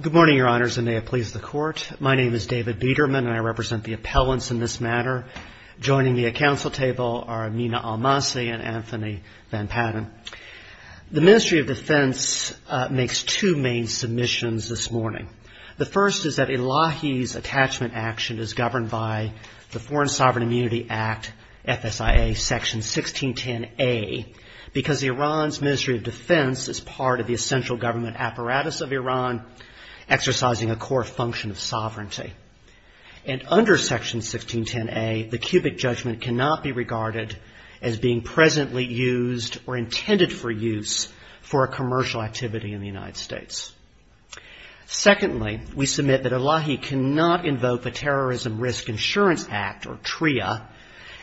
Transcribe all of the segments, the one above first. Good morning, Your Honors, and may it please the Court. My name is David Biederman, and I represent the appellants in this matter. Joining me at Council Table are Amina Al-Masih and Anthony Van Patten. The Ministry of Defense makes two main submissions this morning. The first is that Elahi's attachment action is governed by the Foreign Sovereign Immunity Act, FSIA Section 1610A, because Iran's Ministry of Defense is part of the essential government apparatus of Iran, exercising a core function of sovereignty. And under Section 1610A, the cubic judgment cannot be regarded as being presently used or intended for use for a commercial activity in the United States. Secondly, we submit that Elahi cannot invoke a Terrorism Risk Insurance Act, or TRIA,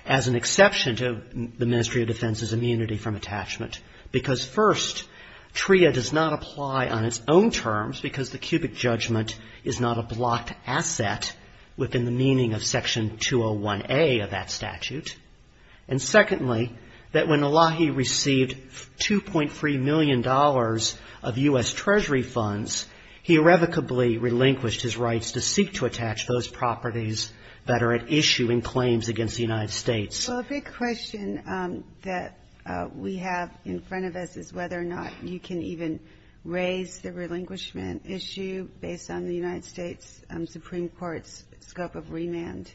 as an exception to the Ministry of Defense's immunity from attachment, because first, TRIA does not apply on its own terms, because the cubic judgment is not a blocked asset within the meaning of Section 201A of that statute. And secondly, that when Elahi received $2.3 million of U.S. Treasury funds, he irrevocably relinquished his rights to seek to attach those properties that are at issue in claims against the United States. Well, a big question that we have in front of us is whether or not you can even raise the relinquishment issue based on the United States Supreme Court's scope of remand.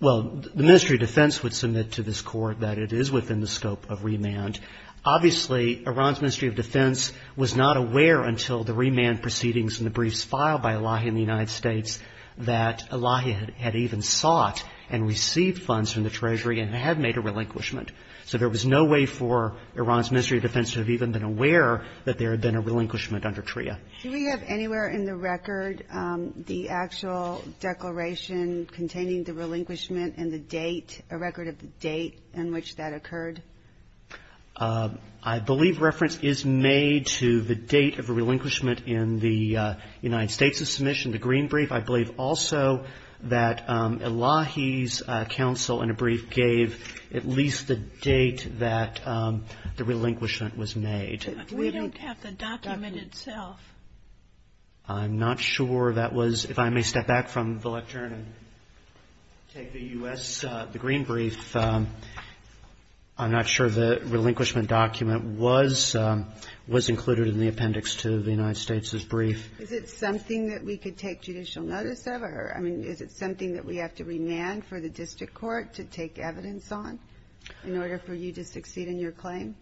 Well, the Ministry of Defense would submit to this Court that it is within the scope of remand. Obviously, Iran's Ministry of Defense was not aware until the remand proceedings and the briefs filed by Elahi in the United States that Elahi had even sought and received funds from the Treasury and had made a relinquishment. So there was no way for Iran's Ministry of Defense to have even been aware that there had been a relinquishment under TRIA. Do we have anywhere in the record the actual declaration containing the relinquishment and the date, a record of the date in which that occurred? I believe reference is made to the date of relinquishment in the United States' submission, the green brief. I believe also that Elahi's counsel in a brief gave at least the date that the relinquishment was made. We don't have the document itself. I'm not sure that was — if I may step back from the lectern and take the U.S. — the I'm not sure the relinquishment document was included in the appendix to the United States' brief. Is it something that we could take judicial notice of? Or, I mean, is it something that we have to remand for the district court to take evidence on in order for you to succeed in your claim?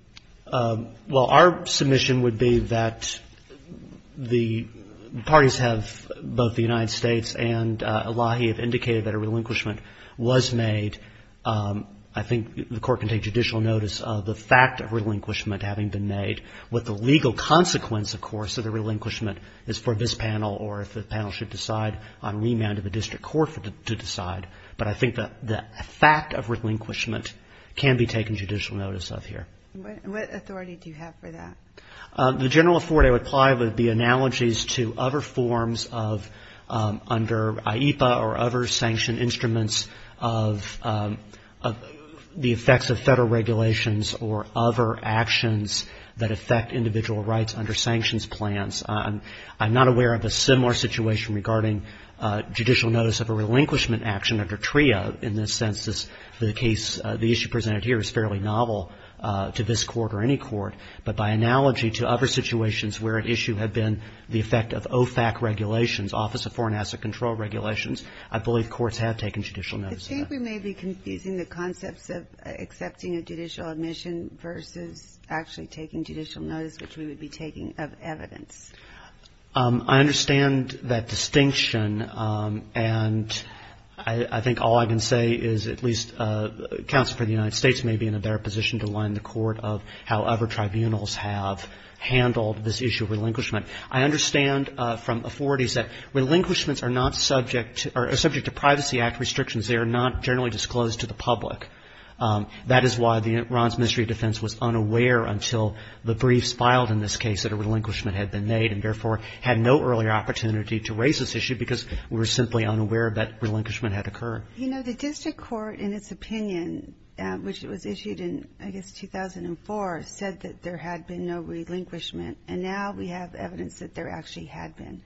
Well, our submission would be that the parties have — both the United States and Elahi have indicated that a relinquishment was made. I think the court can take judicial notice of the fact of relinquishment having been made. What the legal consequence, of course, of the relinquishment is for this panel or if the panel should decide on remand of the district court to decide. But I think the fact of relinquishment can be taken judicial notice of here. What authority do you have for that? The general afford I would apply would be analogies to other forms of — under IEPA or other sanctioned instruments of the effects of Federal regulations or other actions that affect individual rights under sanctions plans. I'm not aware of a similar situation regarding judicial notice of a relinquishment action under TRIA in this sense. The case — the issue presented here is fairly novel to this analogy to other situations where an issue had been the effect of OFAC regulations, Office of Foreign Asset Control regulations. I believe courts have taken judicial notice of that. I think we may be confusing the concepts of accepting a judicial admission versus actually taking judicial notice, which we would be taking of evidence. I understand that distinction. And I think all I can say is at least counsel for the issue of relinquishment. I understand from authorities that relinquishments are not subject — are subject to Privacy Act restrictions. They are not generally disclosed to the public. That is why Ron's Ministry of Defense was unaware until the briefs filed in this case that a relinquishment had been made, and therefore had no earlier opportunity to raise this issue because we were simply unaware that relinquishment had occurred. You know, the district court, in its opinion, which was issued in, I guess, 2004, said that there had been no relinquishment. And now we have evidence that there actually had been.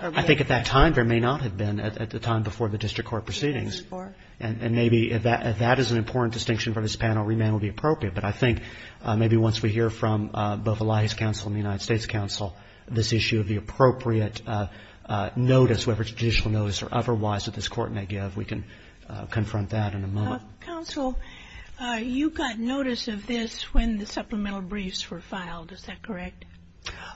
I think at that time there may not have been, at the time before the district court proceedings. And maybe if that is an important distinction for this panel, remand would be appropriate. But I think maybe once we hear from both Elias Counsel and the United States Counsel this issue of the appropriate notice, whether it's judicial notice or otherwise, that this court may give, we can confront that in a moment. Counsel, you got notice of this when the supplemental briefs were filed. Is that correct?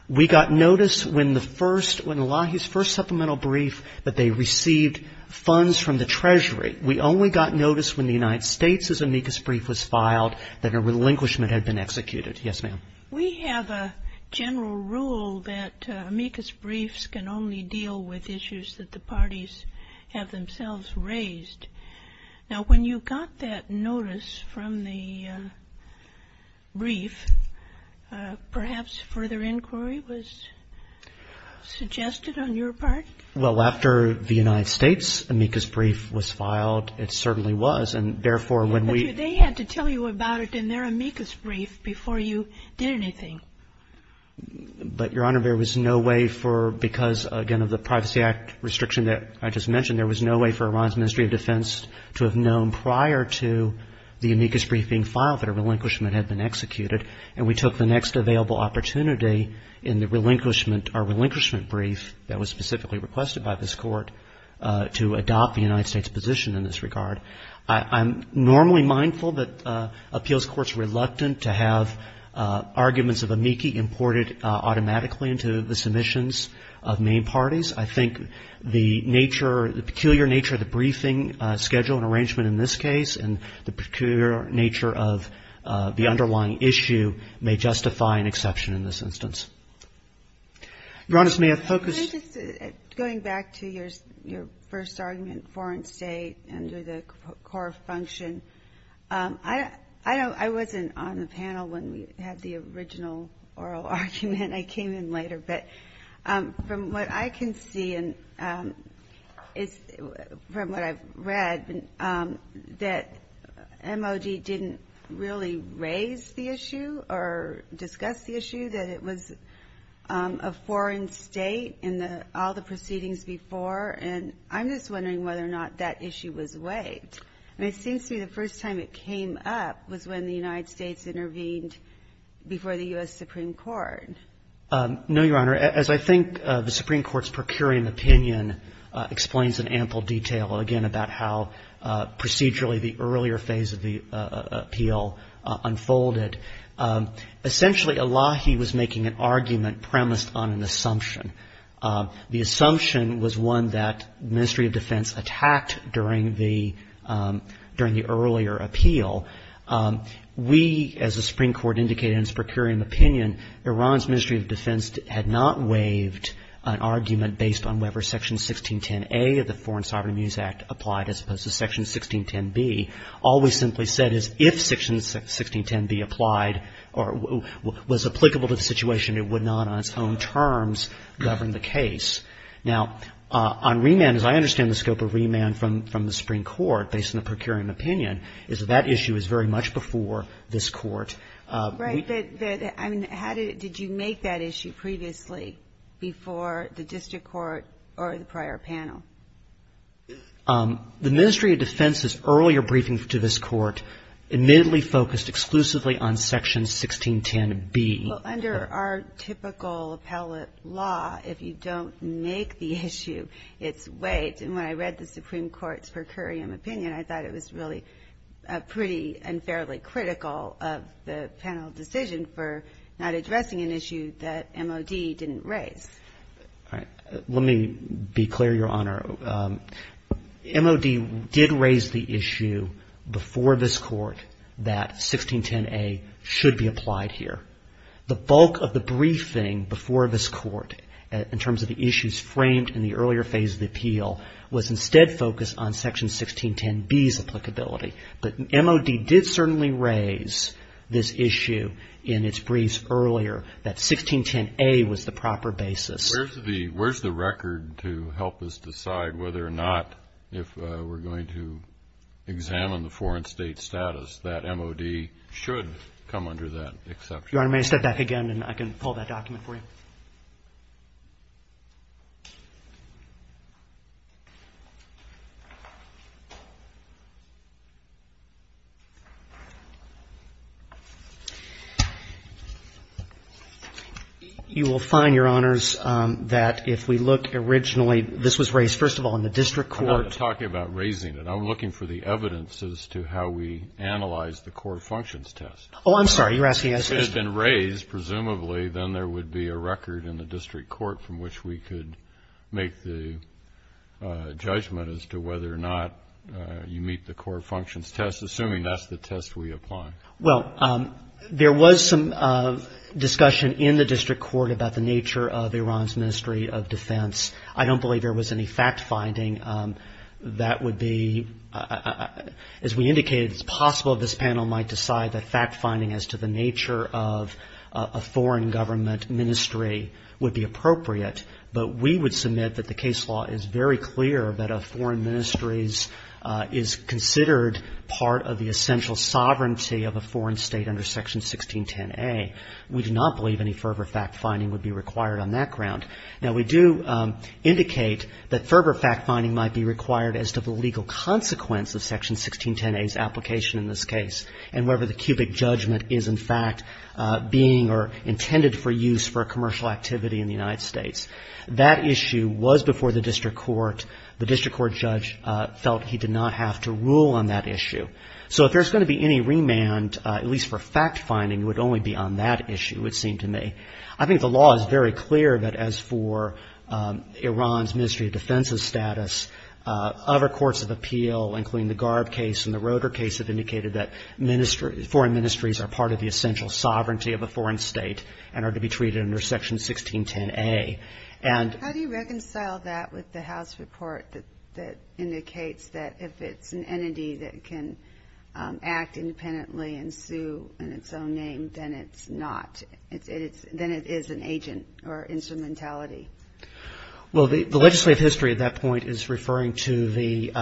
We got notice when the first — when the law — his first supplemental brief, that they received funds from the Treasury. We only got notice when the United States' amicus brief was filed, that a relinquishment had been executed. Yes, ma'am. We have a general rule that amicus briefs can only deal with issues that the parties have themselves raised. Now, when you got that notice from the brief, perhaps further inquiry was suggested on your part? Well, after the United States' amicus brief was filed, it certainly was. And therefore when we — But they had to tell you about it in their amicus brief before you did anything. But Your Honor, there was no way for — because, again, of the Privacy Act restriction that I just mentioned, there was no way for Iran's Ministry of Defense to have known prior to the amicus brief being filed that a relinquishment had been executed. And we took the next available opportunity in the relinquishment — our relinquishment brief that was specifically requested by this Court to adopt the United States' position in this regard. I'm normally mindful that appeals courts are reluctant to have arguments of amici imported automatically into the submissions of main parties. I think the nature — the peculiar nature of the briefing schedule and arrangement in this case and the peculiar nature of the underlying issue may justify an exception in this instance. Your Honor, may I focus — Can I just — going back to your first argument, foreign state under the core function, I wasn't on the panel when we had the original oral argument. I came in later. But from what I can see and it's — from what I've read, that MOG didn't really raise the issue or discuss the issue, that it was a foreign state in the — all the proceedings before. And I'm just wondering whether or not that issue was weighed. I mean, it seems to me the first time it came up was when the United States intervened before the U.S. Supreme Court. No, Your Honor. As I think the Supreme Court's per curiam opinion explains in ample detail, again, about how procedurally the earlier phase of the appeal unfolded, essentially Elahi was making an argument premised on an assumption. The assumption was one that the during the earlier appeal, we, as the Supreme Court indicated in its per curiam opinion, Iran's Ministry of Defense had not waived an argument based on whether Section 1610A of the Foreign Sovereign Abuse Act applied as opposed to Section 1610B. All we simply said is if Section 1610B applied or was applicable to the situation, it would not on its own terms govern the case. Now, on remand, as I understand the scope of remand from the Supreme Court, based on the per curiam opinion, is that that issue is very much before this Court. Right. But I mean, how did you make that issue previously before the district court or the prior panel? The Ministry of Defense's earlier briefing to this Court admittedly focused exclusively on Section 1610B. Under our typical appellate law, if you don't make the issue, it's waived. And when I read the Supreme Court's per curiam opinion, I thought it was really pretty and fairly critical of the panel decision for not addressing an issue that MOD didn't raise. Let me be clear, Your Honor. MOD did raise the issue before this Court that 1610A should be applied here. The bulk of the briefing before this Court in terms of the issues framed in the earlier phase of the appeal was instead focused on Section 1610B's applicability. But MOD did certainly raise this issue in its briefs earlier that 1610A was the proper basis. Where's the record to help us decide whether or not, if we're going to examine the foreign state status, that MOD should come under that exception? Your Honor, may I step back again and I can pull that document for you? You will find, Your Honors, that if we look originally, this was raised first of all in the district court. I'm not talking about raising it. I'm looking for the evidence as to how we analyze the core functions test. Oh, I'm sorry. You're asking us to... If it had been raised, presumably, then there would be a record in the district court from which we could make the judgment as to whether or not you meet the core functions test, assuming that's the test we apply. Well, there was some discussion in the district court about the nature of Iran's Ministry of Defense. I don't believe there was any fact-finding that would be, as we indicated, it's possible this panel might decide that fact-finding as to the nature of a foreign government ministry would be appropriate. But we would submit that the case law is very clear that a foreign ministry is considered part of the essential sovereignty of a foreign state under Section 1610A. We do not believe any further fact-finding would be required on that ground. Now, we do indicate that further fact-finding might be required as to the legal consequence of Section 1610A's application in this case and whether the cubic judgment is, in fact, being or intended for use for commercial activity in the United States. That issue was before the district court. The district court judge felt he did not have to rule on that issue. So if there's going to be any remand, at least for fact-finding, it would only be on that for Iran's Ministry of Defense's status. Other courts of appeal, including the Garb case and the Roeder case, have indicated that foreign ministries are part of the essential sovereignty of a foreign state and are to be treated under Section 1610A. And how do you reconcile that with the House report that indicates that if it's an entity that can act independently and sue in its own name, then it's not, then it is an agent or instrumentality? Well, the legislative history at that point is referring to the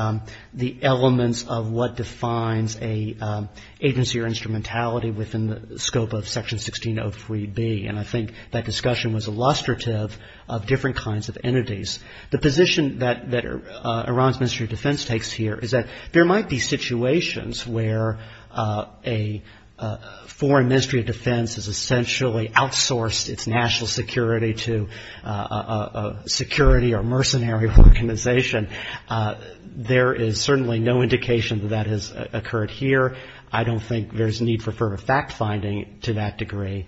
elements of what defines an agency or instrumentality within the scope of Section 1603B. And I think that discussion was illustrative of different kinds of entities. The position that Iran's Ministry of Defense takes here is that there might be situations where a foreign ministry of defense has essentially outsourced its national security to a security or mercenary organization. There is certainly no indication that that has occurred here. I don't think there's need for further fact-finding to that degree.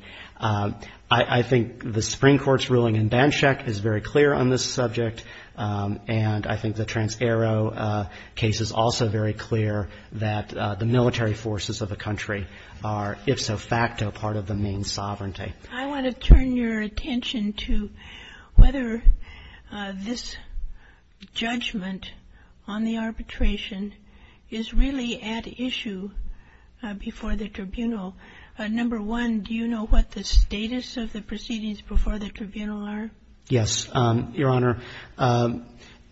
I think the Supreme Court's ruling in Danczak is very clear on this subject. And I think the Trans-Arrow case is also very clear that the military forces of a country are, if so facto, part of the main sovereignty. I want to turn your attention to whether this judgment on the arbitration is really at issue before the tribunal. Number one, do you know what the status of the proceedings before the tribunal are? Yes, Your Honor.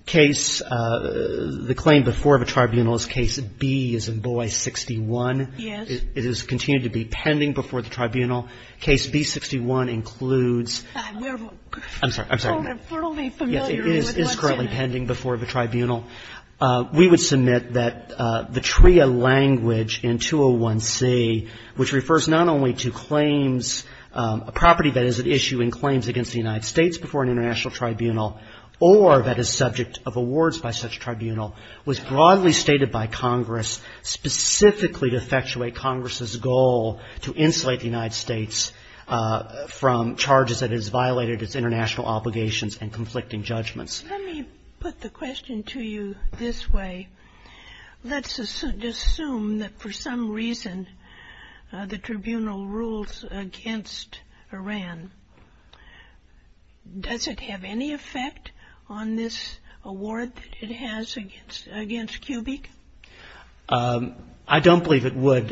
Case the claim before the tribunal is Case B-Zimboy 61. Yes. It is continuing to be pending before the tribunal. Case B-61 includes — I'm sorry. I'm sorry. It's sort of familiar to me with Danczak. Yes. It is currently pending before the tribunal. We would submit that the TRIA language in 201C, which refers not only to claims, a property that is at issue in claims against the United States before an international tribunal or that is subject of awards by such a tribunal, was broadly stated by Congress specifically to effectuate Congress's goal to insulate the United States from charges that it has violated its international obligations and conflicting judgments. Let me put the question to you this way. Let's assume that for some reason the tribunal rules against Iran. Does it have any effect on this award that it has against Cubic? I don't believe it would.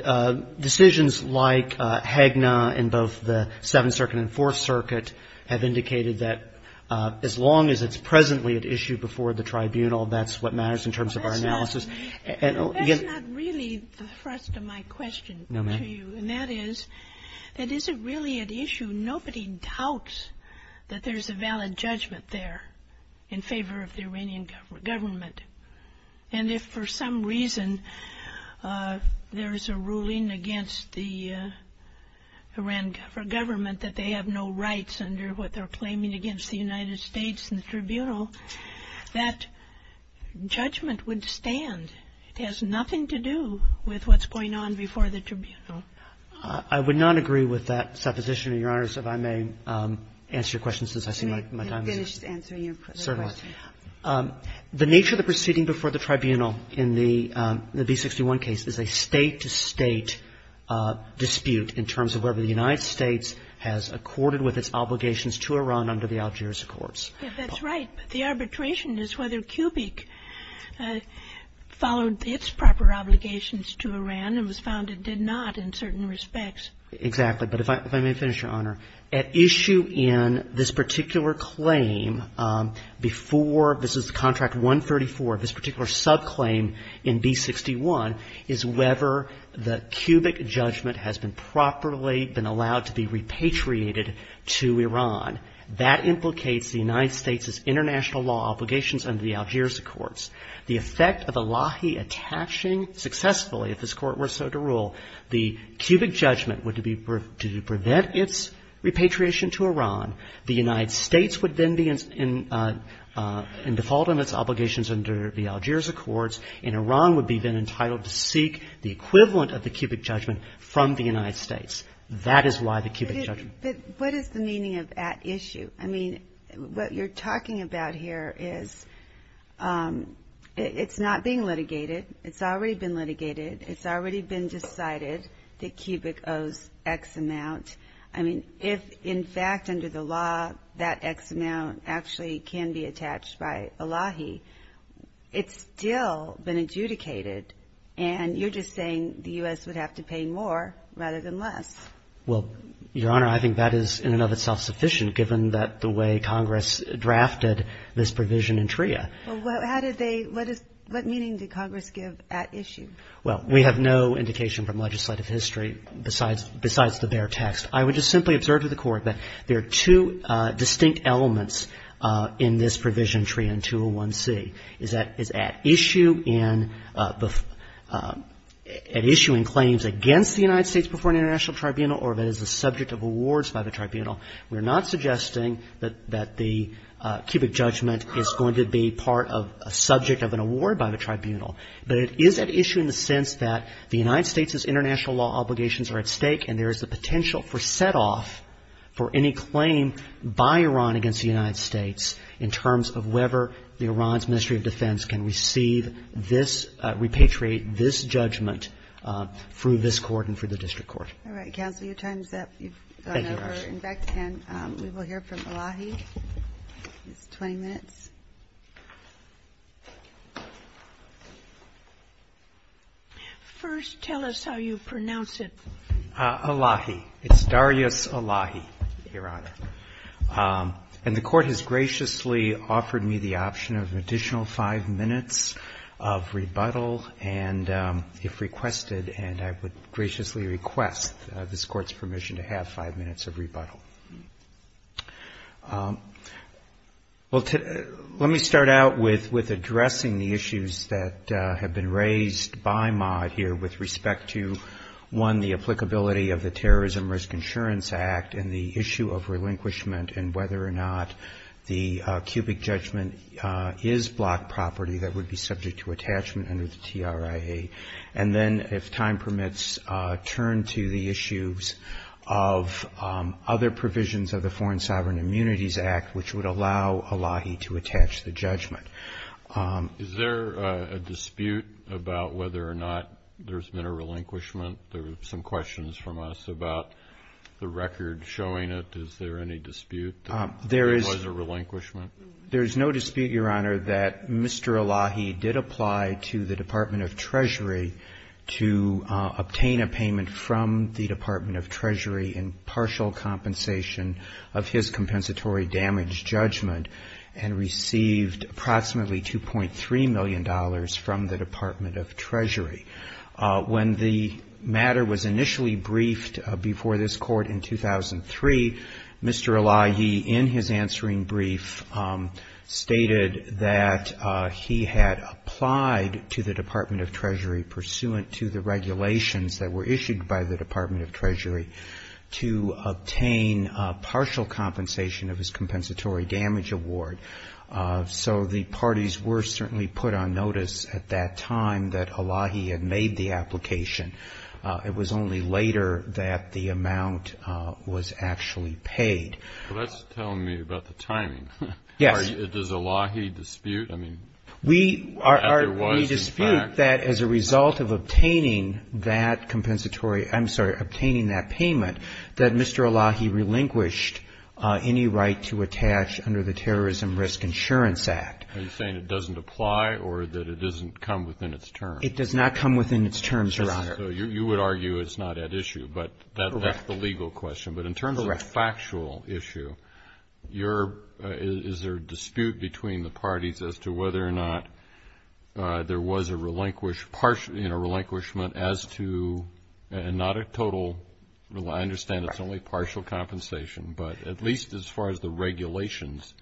Decisions like HAGNA in both the Seventh Circuit and Fourth Circuit have indicated that as long as it's presently at issue before the tribunal, that's what matters in terms of our analysis. That's not really the thrust of my question to you. And that is, that is it really at issue? Nobody doubts that there's a valid judgment there in favor of the Iranian government. And if for some reason there is a ruling against the Iran government that they have no rights under what they're claiming against the United States in the to do with what's going on before the tribunal. I would not agree with that supposition, Your Honor, so if I may answer your question since I see my time is up. Let me finish answering your question. Certainly. The nature of the proceeding before the tribunal in the B61 case is a State-to-State dispute in terms of whether the United States has accorded with its obligations to Iran under the Algiers Accords. That's right. But the arbitration is whether Cubic followed its proper obligations to Iran and was found it did not in certain respects. Exactly. But if I may finish, Your Honor. At issue in this particular claim before, this is Contract 134, this particular subclaim in B61 is whether the Cubic judgment has been properly been allowed to be repatriated to Iran. That implicates the United States' international law obligations under the Algiers Accords. The effect of a lahi attaching successfully, if this Court were so to rule, the Cubic judgment would be to prevent its repatriation to Iran. The United States would then be in default on its obligations under the Algiers Accords, and Iran would be then entitled to seek the equivalent of the Cubic judgment from the United States. That is why the Cubic judgment. But what is the meaning of at issue? I mean, what you're talking about here is it's not being litigated. It's already been litigated. It's already been decided that Cubic owes X amount. I mean, if, in fact, under the law, that X amount actually can be attached by a lahi, it's still been adjudicated, and you're just saying the U.S. would have to pay more rather than less. Well, Your Honor, I think that is in and of itself sufficient, given that the way Congress drafted this provision in TRIA. Well, how did they – what is – what meaning did Congress give at issue? Well, we have no indication from legislative history besides the bare text. I would just simply observe to the Court that there are two distinct elements in this provision, TRIA and 201C. It's at issue in – at issuing claims against the United States before an international tribunal or that is the subject of awards by the tribunal. We're not suggesting that the Cubic judgment is going to be part of a subject of an award by the tribunal. But it is at issue in the sense that the United States' international law obligations are at stake, and there is the potential for set-off for any claim by Iran against the United States in terms of whether Iran's Ministry of Defense can receive this judgment through this Court and through the district court. All right. Counsel, your time is up. You've gone over. Thank you, Your Honor. And back to Ken. We will hear from Elahi. He has 20 minutes. First, tell us how you pronounce it. Elahi. It's Darius Elahi, Your Honor. And the Court has graciously offered me the option of an additional five minutes of rebuttal, and if requested, and I would graciously request this Court's permission to have five minutes of rebuttal. Well, let me start out with addressing the issues that have been raised by Mott here with respect to, one, the applicability of the Terrorism Risk Insurance Act and the issue of relinquishment and whether or not the cubic judgment is block property that would be subject to attachment under the TRIA, and then, if time permits, turn to the issues of other provisions of the Foreign Sovereign Immunities Act, which would allow Elahi to attach the judgment. Is there a dispute about whether or not there's been a relinquishment? There were some questions from us about the record showing it. Is there any dispute that there was a relinquishment? There is no dispute, Your Honor, that Mr. Elahi did apply to the Department of Treasury to obtain a payment from the Department of Treasury in partial compensation of his compensatory damage judgment and received approximately $2.3 million from the Department of Treasury. When the matter was initially briefed before this Court in 2003, Mr. Elahi, in his answering brief, stated that he had applied to the Department of Treasury pursuant to the regulations that were issued by the Department of Treasury to obtain partial compensation of his compensatory damage award. So the parties were certainly put on notice at that time that Elahi had made the application. It was only later that the amount was actually paid. Well, that's telling me about the timing. Yes. Does Elahi dispute, I mean, that there was, in fact? We dispute that as a result of obtaining that compensatory, I'm sorry, obtaining that payment, that Mr. Elahi relinquished any right to attach under the Terrorism Risk Insurance Act. Are you saying it doesn't apply or that it doesn't come within its term? It does not come within its term, Your Honor. So you would argue it's not at issue, but that's the legal question. Correct. But in terms of a factual issue, is there a dispute between the parties as to whether or not there was a relinquishment as to, and not a total, I understand it's only partial compensation, but at least as far as the regulations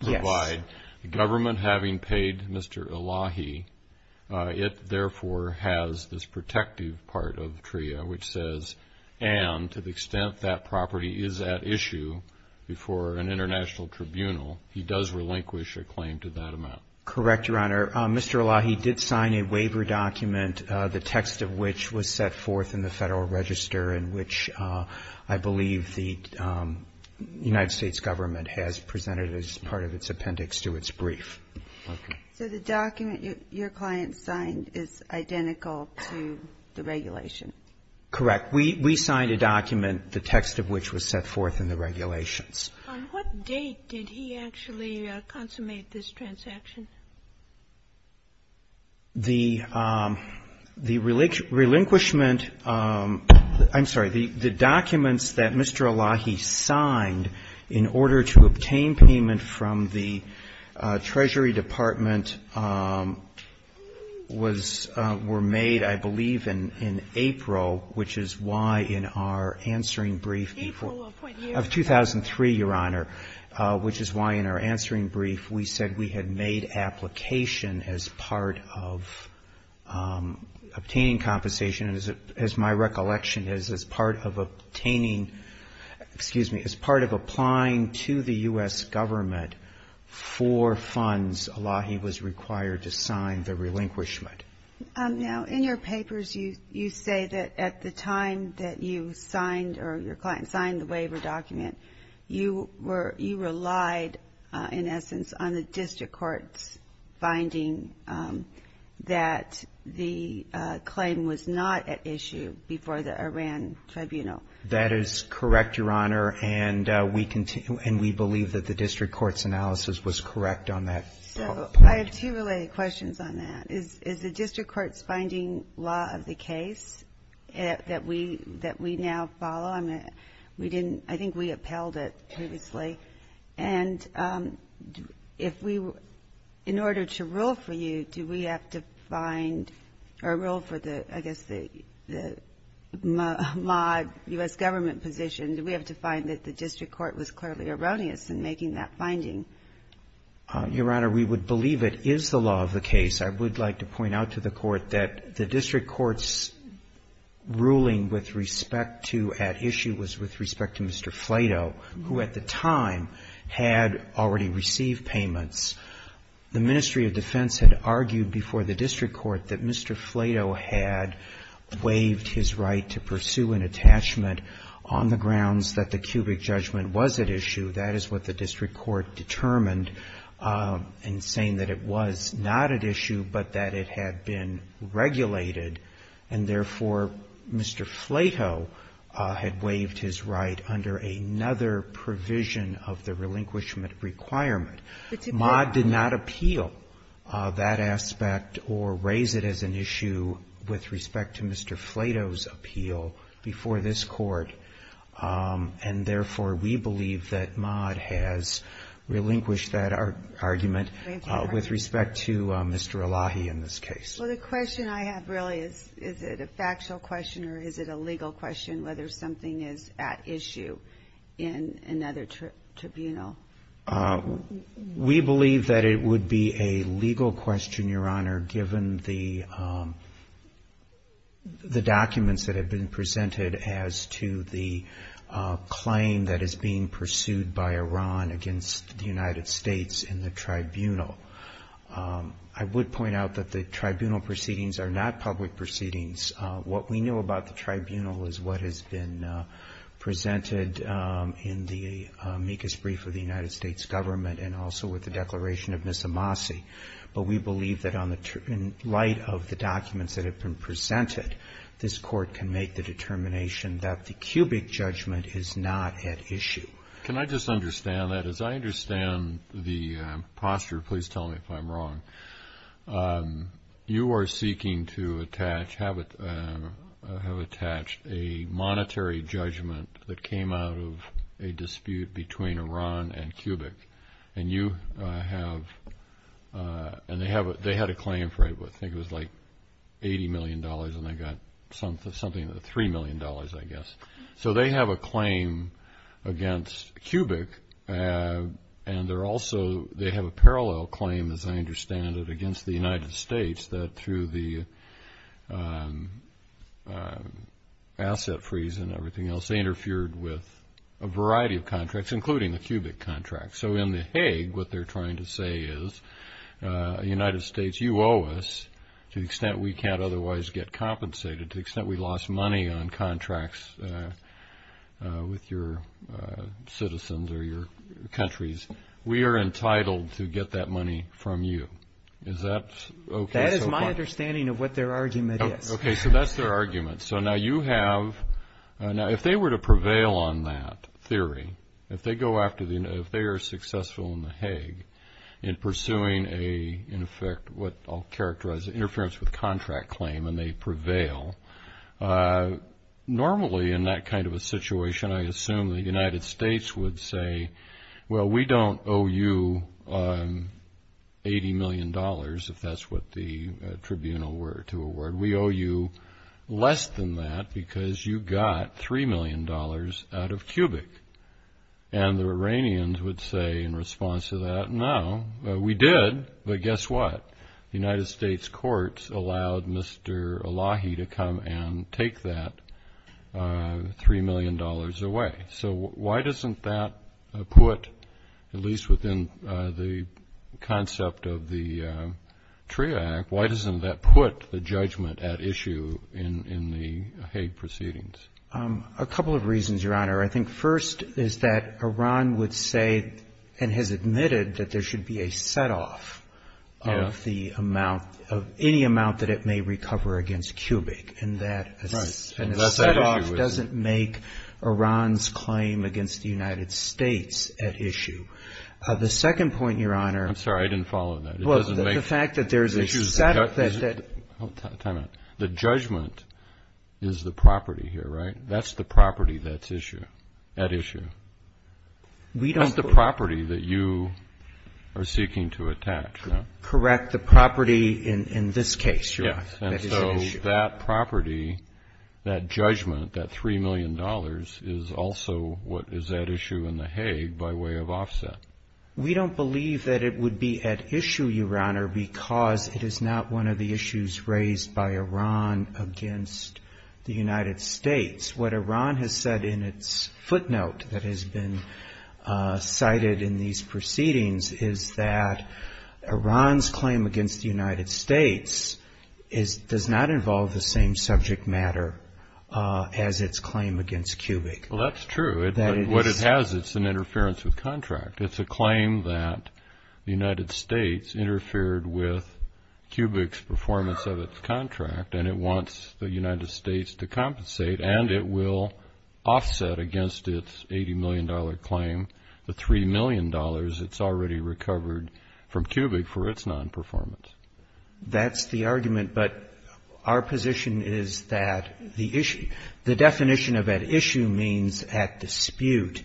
provide. Yes. The government having paid Mr. Elahi, it therefore has this protective part of TRIA which says, and to the extent that property is at issue before an international tribunal, he does relinquish a claim to that amount. Correct, Your Honor. Mr. Elahi did sign a waiver document, the text of which was set forth in the Federal Register in which I believe the United States government has presented as part of its appendix to its brief. So the document your client signed is identical to the regulation? Correct. We signed a document, the text of which was set forth in the regulations. On what date did he actually consummate this transaction? The relinquishment, I'm sorry, the documents that Mr. Elahi signed in order to obtain payment from the Treasury Department was, were made, I believe, in April, which is why in our answering brief of 2003, Your Honor, which is why in our answering brief we said we had made application as part of obtaining compensation, as my recollection is, as part of obtaining, excuse me, as part of applying to the U.S. government for funds, Elahi was required to sign the relinquishment. Now, in your papers you say that at the time that you signed or your client signed the waiver document, you were, you relied in essence on the district court's finding that the claim was not at issue before the Iran tribunal. That is correct, Your Honor, and we believe that the district court's analysis was correct on that point. So I have two related questions on that. Is the district court's finding law of the case that we now follow? I mean, we didn't, I think we upheld it previously. And if we, in order to rule for you, do we have to find or rule for the, I guess the mod U.S. government position, do we have to find that the district court was clearly erroneous in making that finding? Your Honor, we would believe it is the law of the case. I would like to point out to the Court that the district court's ruling with respect to at issue was with respect to Mr. Flato, who at the time had already received payments. The Ministry of Defense had argued before the district court that Mr. Flato had waived his right to pursue an attachment on the grounds that the cubic judgment was at issue. That is what the district court determined in saying that it was not at issue, but that it had been regulated, and therefore, Mr. Flato had waived his right under another provision of the relinquishment requirement. Mod did not appeal that aspect or raise it as an issue with respect to Mr. Flato's appeal before this Court. And therefore, we believe that Mod has relinquished that argument with respect to Mr. Elahi in this case. Well, the question I have really is, is it a factual question or is it a legal question whether something is at issue in another tribunal? We believe that it would be a legal question, Your Honor, given the documents that have been presented as to the claim that is being pursued by Iran against the United States in the tribunal. I would point out that the tribunal proceedings are not public proceedings. What we know about the tribunal is what has been presented in the amicus brief of the United States government and also with the declaration of Ms. Amasi. But we believe that in light of the documents that have been presented, this Court can make the determination that the cubic judgment is not at issue. Can I just understand that? As I understand the posture, please tell me if I'm wrong, you are seeking to attach, have attached a monetary judgment that came out of a dispute between Iran and cubic. And you have, and they had a claim for, I think it was like $80 million and they got something like $3 million, I guess. So they have a claim against cubic and they're also, they have a parallel claim, as I understand it, against the United States that through the asset freeze and everything else, they interfered with a variety of contracts, including the cubic contract. So in the Hague, what they're trying to say is, United States, you owe us to the extent we can't otherwise get compensated, to the extent we lost money on contracts with your citizens or your countries. We are entitled to get that money from you. Is that okay so far? That is my understanding of what their argument is. Okay, so that's their argument. So now you have, now if they were to prevail on that theory, if they go after the, if they are successful in the Hague in pursuing a, in effect, what I'll characterize, interference with contract claim and they prevail, normally in that kind of a situation, I assume the United States would say, well, we don't owe you $80 million, if that's what the tribunal were to award. We owe you less than that because you got $3 million out of cubic. And the Iranians would say in response to that, no, we did, but guess what? The United States courts allowed Mr. Elahi to come and take that $3 million away. So why doesn't that put, at least within the concept of the TRIA Act, why doesn't that put the judgment at issue in the Hague proceedings? I think first is that Iran would say and has admitted that there should be a setoff of the amount, of any amount that it may recover against cubic. And that setoff doesn't make Iran's claim against the United States at issue. The second point, Your Honor. I'm sorry, I didn't follow that. Well, the fact that there's a setoff. Time out. The judgment is the property here, right? That's the property that's issue, at issue. That's the property that you are seeking to attach, no? Correct, the property in this case, Your Honor. And so that property, that judgment, that $3 million, is also what is at issue in the Hague by way of offset. We don't believe that it would be at issue, Your Honor, because it is not one of the issues raised by Iran against the United States. What Iran has said in its footnote that has been cited in these proceedings is that Iran's claim against the United States does not involve the same subject matter as its claim against cubic. Well, that's true. What it has, it's an interference with contract. It's a claim that the United States interfered with cubic's performance of its contract, and it wants the United States to compensate, and it will offset against its $80 million claim the $3 million it's already recovered from cubic for its nonperformance. That's the argument, but our position is that the issue, the definition of at issue means at dispute.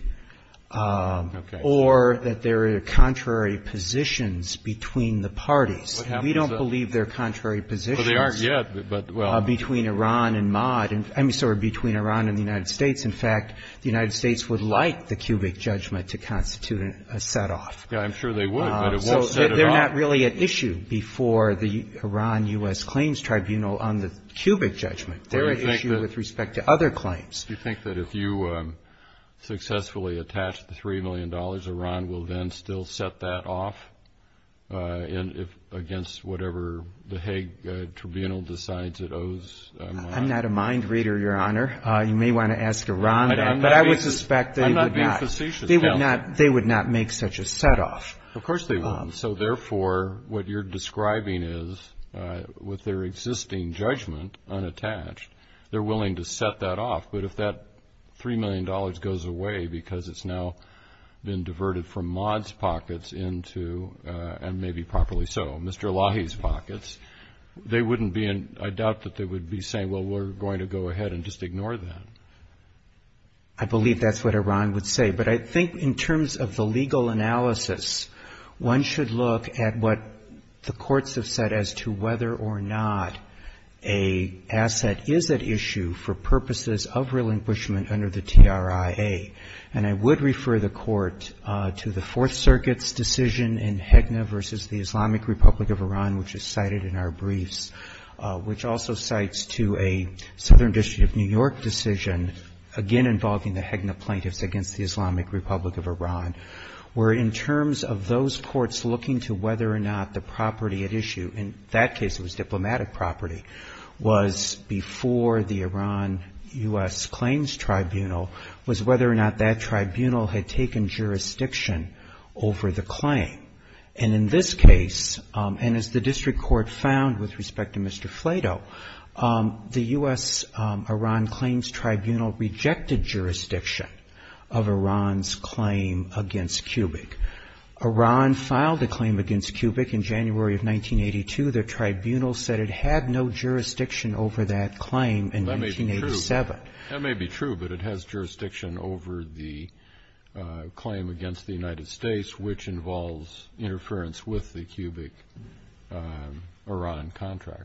Okay. Or that there are contrary positions between the parties. We don't believe there are contrary positions. Well, there aren't yet, but, well. Between Iran and Maad. I mean, sorry, between Iran and the United States. In fact, the United States would like the cubic judgment to constitute a setoff. Yeah, I'm sure they would, but it won't set it off. So they're not really at issue before the Iran-U.S. Claims Tribunal on the cubic judgment. They're at issue with respect to other claims. Do you think that if you successfully attach the $3 million, Iran will then still set that off against whatever the Hague Tribunal decides it owes Maad? I'm not a mind reader, Your Honor. You may want to ask Iran then, but I would suspect they would not. I'm not being facetious. They would not make such a setoff. Of course they wouldn't. So, therefore, what you're describing is with their existing judgment unattached, they're willing to set that off. But if that $3 million goes away because it's now been diverted from Maad's pockets into, and maybe properly so, Mr. Elahi's pockets, they wouldn't be in, I doubt that they would be saying, well, we're going to go ahead and just ignore that. I believe that's what Iran would say. But I think in terms of the legal analysis, one should look at what the courts have said as to whether or not an asset is at issue for purposes of relinquishment under the TRIA. And I would refer the Court to the Fourth Circuit's decision in Hegna v. the Islamic Republic of Iran, which is cited in our briefs, which also cites to a Southern District of New York decision, again involving the Hegna plaintiffs against the Islamic Republic of Iran, where in terms of those courts looking to whether or not the property at issue, in that case it was diplomatic property, was before the Iran-U.S. claims tribunal, was whether or not that tribunal had taken jurisdiction over the claim. And in this case, and as the district court found with respect to Mr. Flato, the U.S.-Iran claims tribunal rejected jurisdiction of Iran's claim against Kubik. Iran filed a claim against Kubik in January of 1982. Their tribunal said it had no jurisdiction over that claim in 1987. That may be true, but it has jurisdiction over the claim against the United States, which involves interference with the Kubik-Iran contract.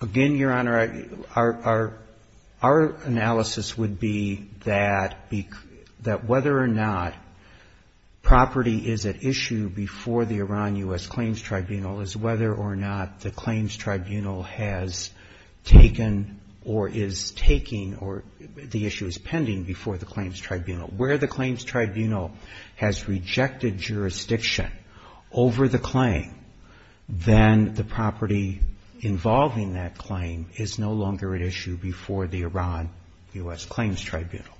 Again, Your Honor, our analysis would be that whether or not property is at issue before the Iran-U.S. claims tribunal is whether or not the claims tribunal has taken or is taking or the issue is pending before the claims tribunal. Where the claims tribunal has rejected jurisdiction over the claim, then the property involved in that claim is at issue. The property involved in that claim is no longer at issue before the Iran-U.S. claims tribunal.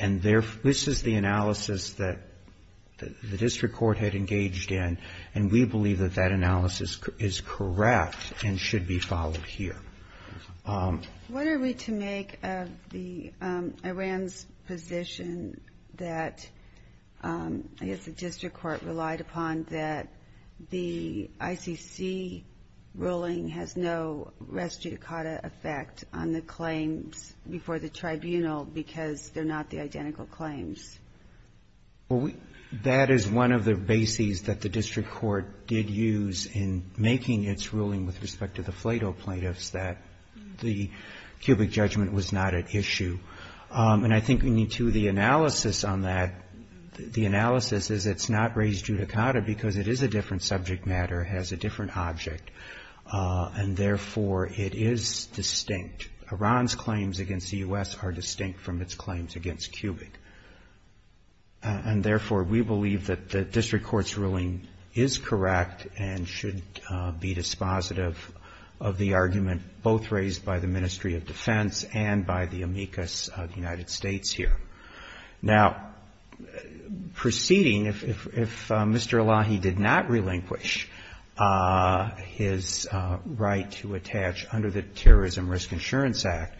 And this is the analysis that the district court had engaged in, and we believe that that analysis is correct and should be followed here. What are we to make of the Iran's position that I guess the district court relied upon that the ICC ruling has no jurisdiction over the claims tribunal because they're not the identical claims? Well, that is one of the bases that the district court did use in making its ruling with respect to the FLEDO plaintiffs, that the Kubik judgment was not at issue. And I think we need to, the analysis on that, the analysis is it's not raised judicata, because it is a different subject matter, has a different object, and therefore it is distinct. Iran's claims against the U.S. are distinct from its claims against Kubik. And therefore, we believe that the district court's ruling is correct and should be dispositive of the argument both raised by the Ministry of Defense and by the amicus of the United States here. Now, proceeding, if Mr. Elahi did not relinquish his right to attach under the Terrorism Risk Insurance Act,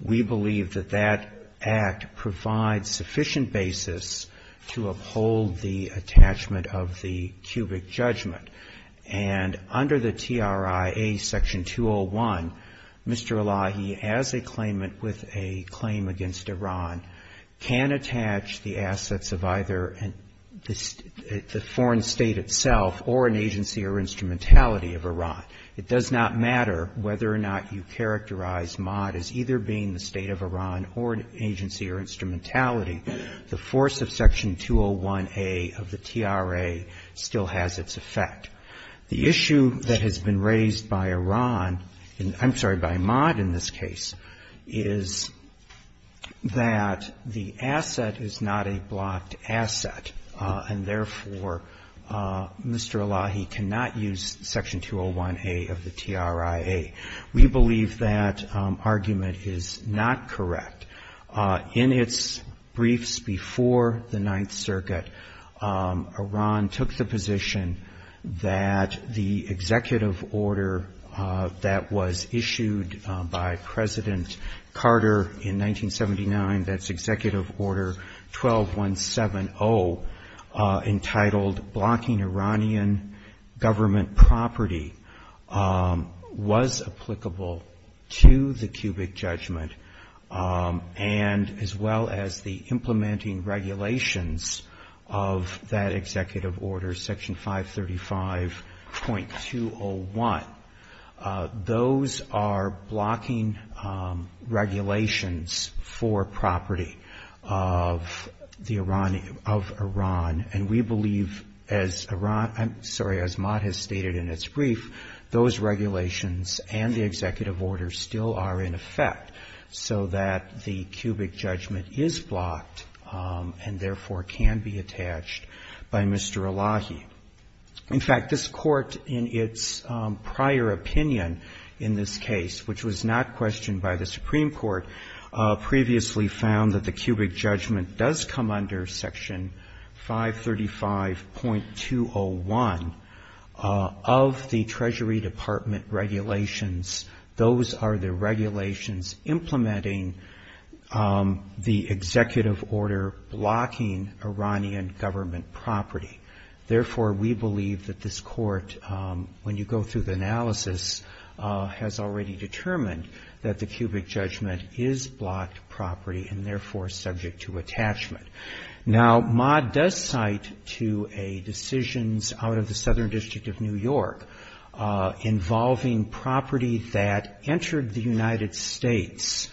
we believe that that act provides sufficient basis to uphold the attachment of the Kubik judgment. And under the TRIA Section 201, Mr. Elahi, as a claimant with a claim against Iran, can attach the assets of either the foreign state itself or an agency or instrumentality of Iran. It does not matter whether or not you characterize Maad as either being the state of Iran or an agency or instrumentality. The force of Section 201A of the TRIA still has its effect. The issue that has been raised by Iran, I'm sorry, by Maad in this case, is that the asset is not a blocked asset, and therefore, Mr. Elahi cannot use Section 201A of the TRIA. We believe that argument is not correct. In its briefs before the Ninth Circuit, Iran took the position that the executive order that was issued by President Carter in 1979, that's Executive Order 12170, entitled Blocking Iranian Government Property, was applicable to the Kubik judgment, and as well as the implementing regulations of that executive order, Section 535.201. Those are blocking regulations for property of the Iran, of Iran, and we believe, as Iran, I'm sorry, as Maad has stated in its brief, those regulations and the executive order still are in effect, so that the Kubik judgment is blocked and therefore can be attached by Mr. Elahi. In fact, this court in its prior opinion in this case, which was not questioned by the Supreme Court, previously found that the Kubik judgment does come under Section 535.201 of the Treasury Department regulations. Those are the regulations implementing the Kubik judgment, and therefore, we believe that this court, when you go through the analysis, has already determined that the Kubik judgment is blocked property and therefore subject to attachment. Now, Maad does cite to a decision out of the Southern District of New York involving property that entered the United States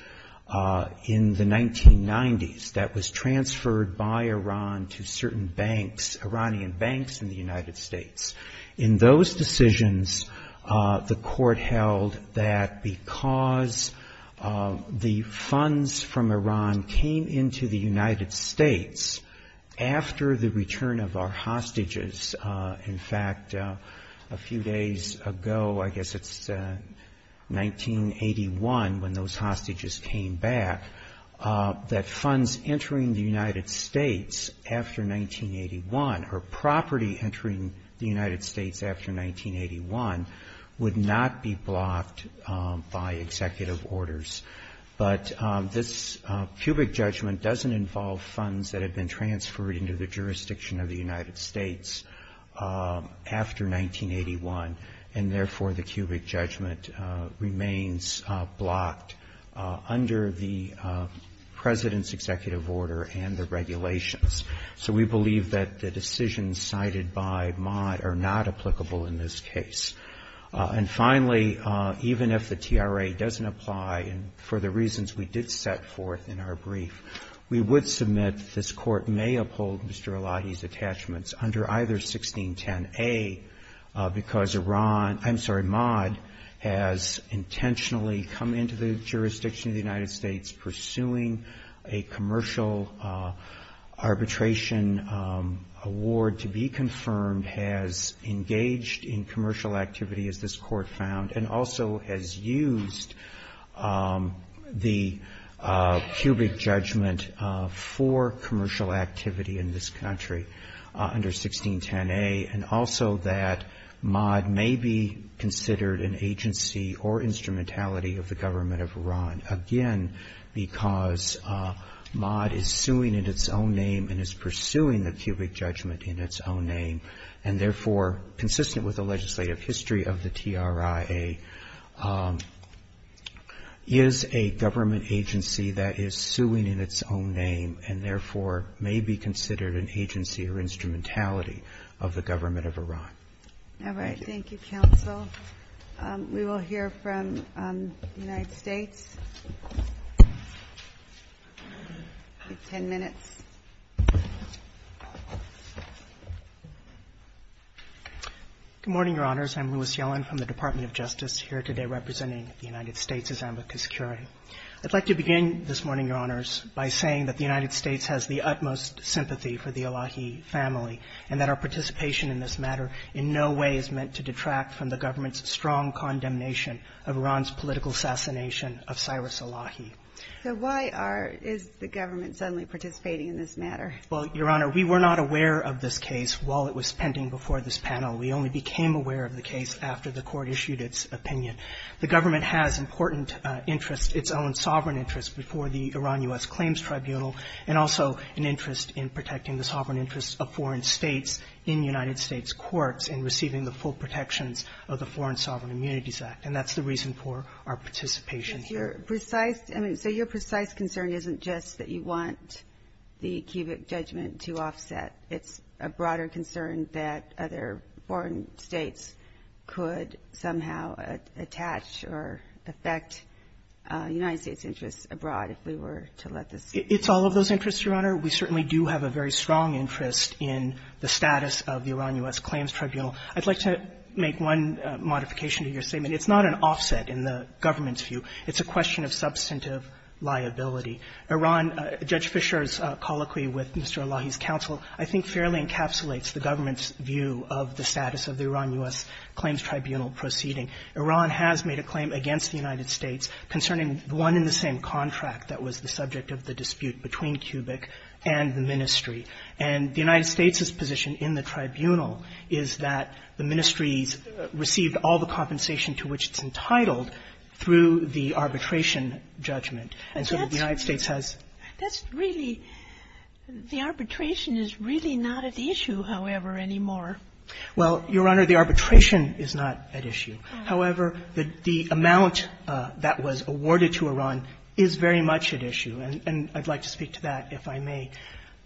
in the 1990s that was transferred by Iran to certain banks, Iranian banks in the United States, and was then transferred to the U.S. In those decisions, the court held that because the funds from Iran came into the United States after the return of our hostages, in fact, a few days ago, I guess it's 1981 when those hostages came back, that funds entering the United States after 1981 or property entering the United States after 1981 would not be blocked by executive orders. But this Kubik judgment doesn't involve funds that had been transferred into the jurisdiction of the United States after 1981, and therefore, the Kubik judgment remains blocked under the President's executive order and the regulations. So we believe that the decisions cited by Maad are not applicable in this case. And finally, even if the TRA doesn't apply, and for the reasons we did set forth in our brief, we would submit this court may uphold Mr. Eladi's attachments under either 1610A because Iran — I'm sorry, Maad has intentionally come into the jurisdiction of the United States pursuing a commercial arbitration award to be confirmed, has engaged in commercial activity, as this court found, and also has used the Kubik judgment for commercial activity in this country under 1610A, and also that Maad may be considered an agency or instrumentality of the government of Iran. All right. Thank you, counsel. We will hear from the United States in 10 minutes. Good morning, Your Honors. I'm Louis Yellen from the Department of Justice, here today representing the United States as ambicus curiae. I'd like to begin this morning, Your Honors, by saying that the United States has the utmost sympathy for the case, and in no way is meant to detract from the government's strong condemnation of Iran's political assassination of Cyrus Elahi. So why are — is the government suddenly participating in this matter? Well, Your Honor, we were not aware of this case while it was pending before this panel. We only became aware of the case after the Court issued its opinion. The government has important interests, its own sovereign interests, before the Iran-U.S. Claims Tribunal, and we have a strong interest in receiving the full protections of the Foreign Sovereign Immunities Act, and that's the reason for our participation here. But your precise — I mean, so your precise concern isn't just that you want the cubic judgment to offset. It's a broader concern that other foreign states could somehow attach or affect United States interests abroad, if we were to let this — It's all of those interests, Your Honor. We certainly do have a very strong interest in the status of the Iran-U.S. Claims Tribunal, I'd like to make one modification to your statement. It's not an offset in the government's view. It's a question of substantive liability. Iran — Judge Fischer's colloquy with Mr. Elahi's counsel, I think, fairly encapsulates the government's view of the status of the Iran-U.S. Claims Tribunal proceeding. Iran has made a claim against the United States concerning one and the same contract that was the subject of the dispute between cubic and the ministry. And the United States has said that the ministries received all the compensation to which it's entitled through the arbitration judgment. And so the United States has — That's really — the arbitration is really not at issue, however, anymore. Well, Your Honor, the arbitration is not at issue. However, the amount that was awarded to Iran is very much at issue. And I'd like to speak to that, if I may.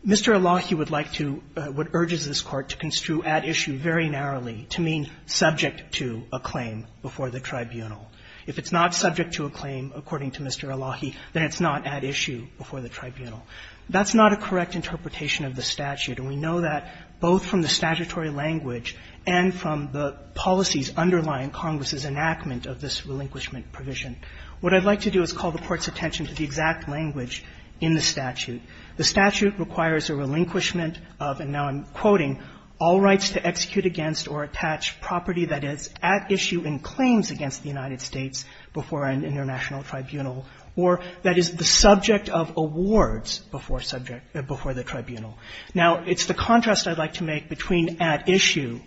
Mr. Elahi would like to — what urges this Court to construe at issue very narrowly to mean subject to a claim before the tribunal. If it's not subject to a claim, according to Mr. Elahi, then it's not at issue before the tribunal. That's not a correct interpretation of the statute. And we know that both from the statutory language and from the policies underlying Congress's enactment of this relinquishment provision. What I'd like to do is call the Court's attention to the exact language in the statute. The statute requires a relinquishment of, and now I'm quoting, all rights to execute against or attach property that is at issue in claims against the United States before an international tribunal, or that is the subject of awards before subject — before the tribunal. Now, it's the contrast I'd like to make between at issue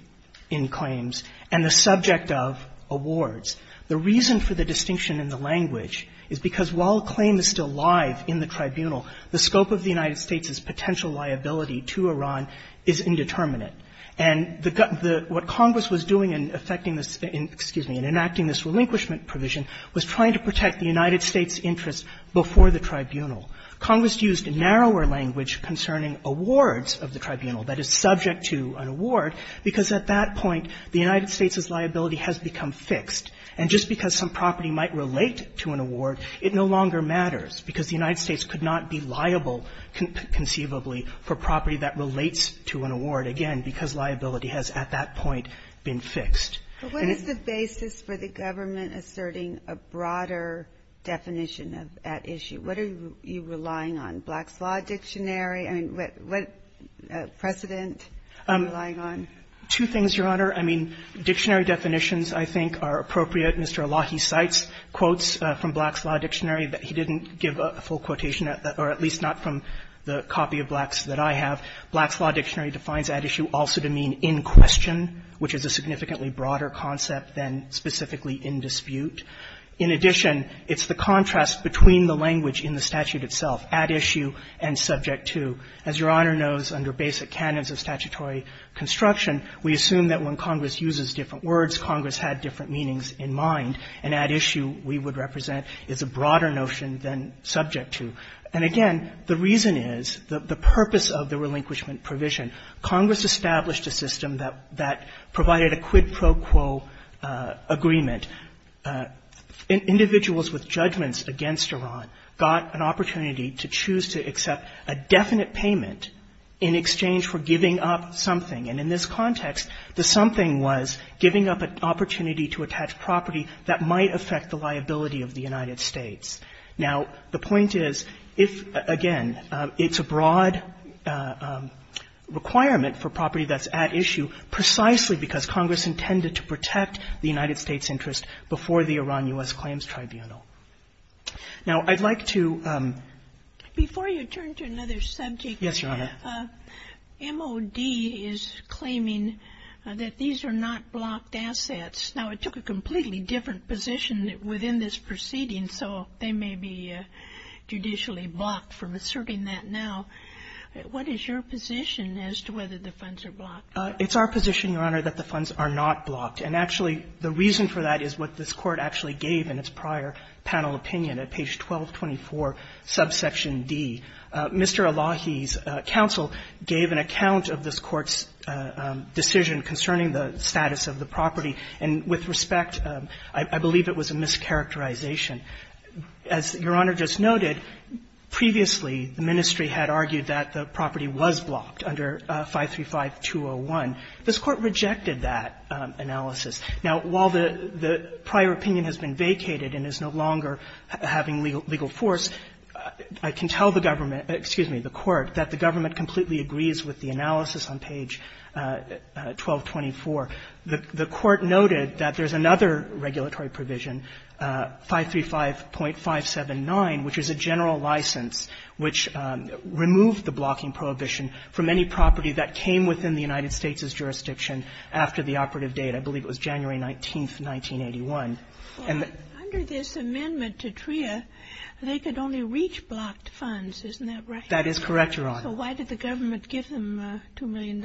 in claims and the subject of awards. The reason for the distinction in the language is because while a claim is still live in the tribunal, the scope of the United States' potential liability to Iran is indeterminate. And the — what Congress was doing in effecting this — excuse me, in enacting this relinquishment provision was trying to protect the United States' interests before the tribunal. Congress used narrower language concerning awards of the tribunal that is subject to an award because at that point the United States' liability has become fixed. And just because some property might relate to an award, it no longer matters, because the United States could not be liable conceivably for property that relates to an award, again, because liability has at that point been fixed. And it's the basis for the government asserting a broader definition of at issue. What are you relying on? Black's Law Dictionary? I mean, what precedent are you relying on? Two things, Your Honor. I mean, dictionary definitions, I think, are appropriate. Mr. Alahi cites quotes from Black's Law Dictionary that he didn't give a full quotation or at least not from the copy of Black's that I have. Black's Law Dictionary defines at issue also to mean in question, which is a significantly broader concept than specifically in dispute. In addition, it's the contrast between the language in the statute itself, at issue and subject to. As Your Honor knows, under basic canons of statutory construction, we assume that when Congress uses different and at issue we would represent is a broader notion than subject to. And again, the reason is, the purpose of the relinquishment provision, Congress established a system that provided a quid pro quo agreement. Individuals with judgments against Iran got an opportunity to choose to accept a definite payment in exchange for giving up something. And in this context, the something was giving up an opportunity to attach property that might affect the liability of the United States. Now, the point is, if, again, it's a broad requirement for property that's at issue precisely because Congress intended to protect the United States' interest before the Iran-U.S. Claims Tribunal. Now, I'd like to ---- Sotomayor, before you turn to another subject, Your Honor, MOD is claiming that these funds are not blocked assets. Now, it took a completely different position within this proceeding, so they may be judicially blocked from asserting that now. What is your position as to whether the funds are blocked? It's our position, Your Honor, that the funds are not blocked. And actually, the reason for that is what this Court actually gave in its prior panel opinion at page 1224, subsection D. Mr. Elahi's counsel gave an account of this Court's decision concerning the status of the property. And with respect, I believe it was a mischaracterization. As Your Honor just noted, previously, the ministry had argued that the property was blocked under 535-201. This Court rejected that analysis. Now, while the prior opinion has been vacated and is no longer having legal force, I can tell the government excuse me, the Court, that the government completely agrees with the analysis on page 1224. The Court noted that there's another regulatory provision, 535.579, which is a general license, which removed the blocking prohibition from any property that came within the United States' jurisdiction after the operative date. I believe it was January 19th, 1981. And the ---- That is correct, Your Honor. So why did the government give them $2 million?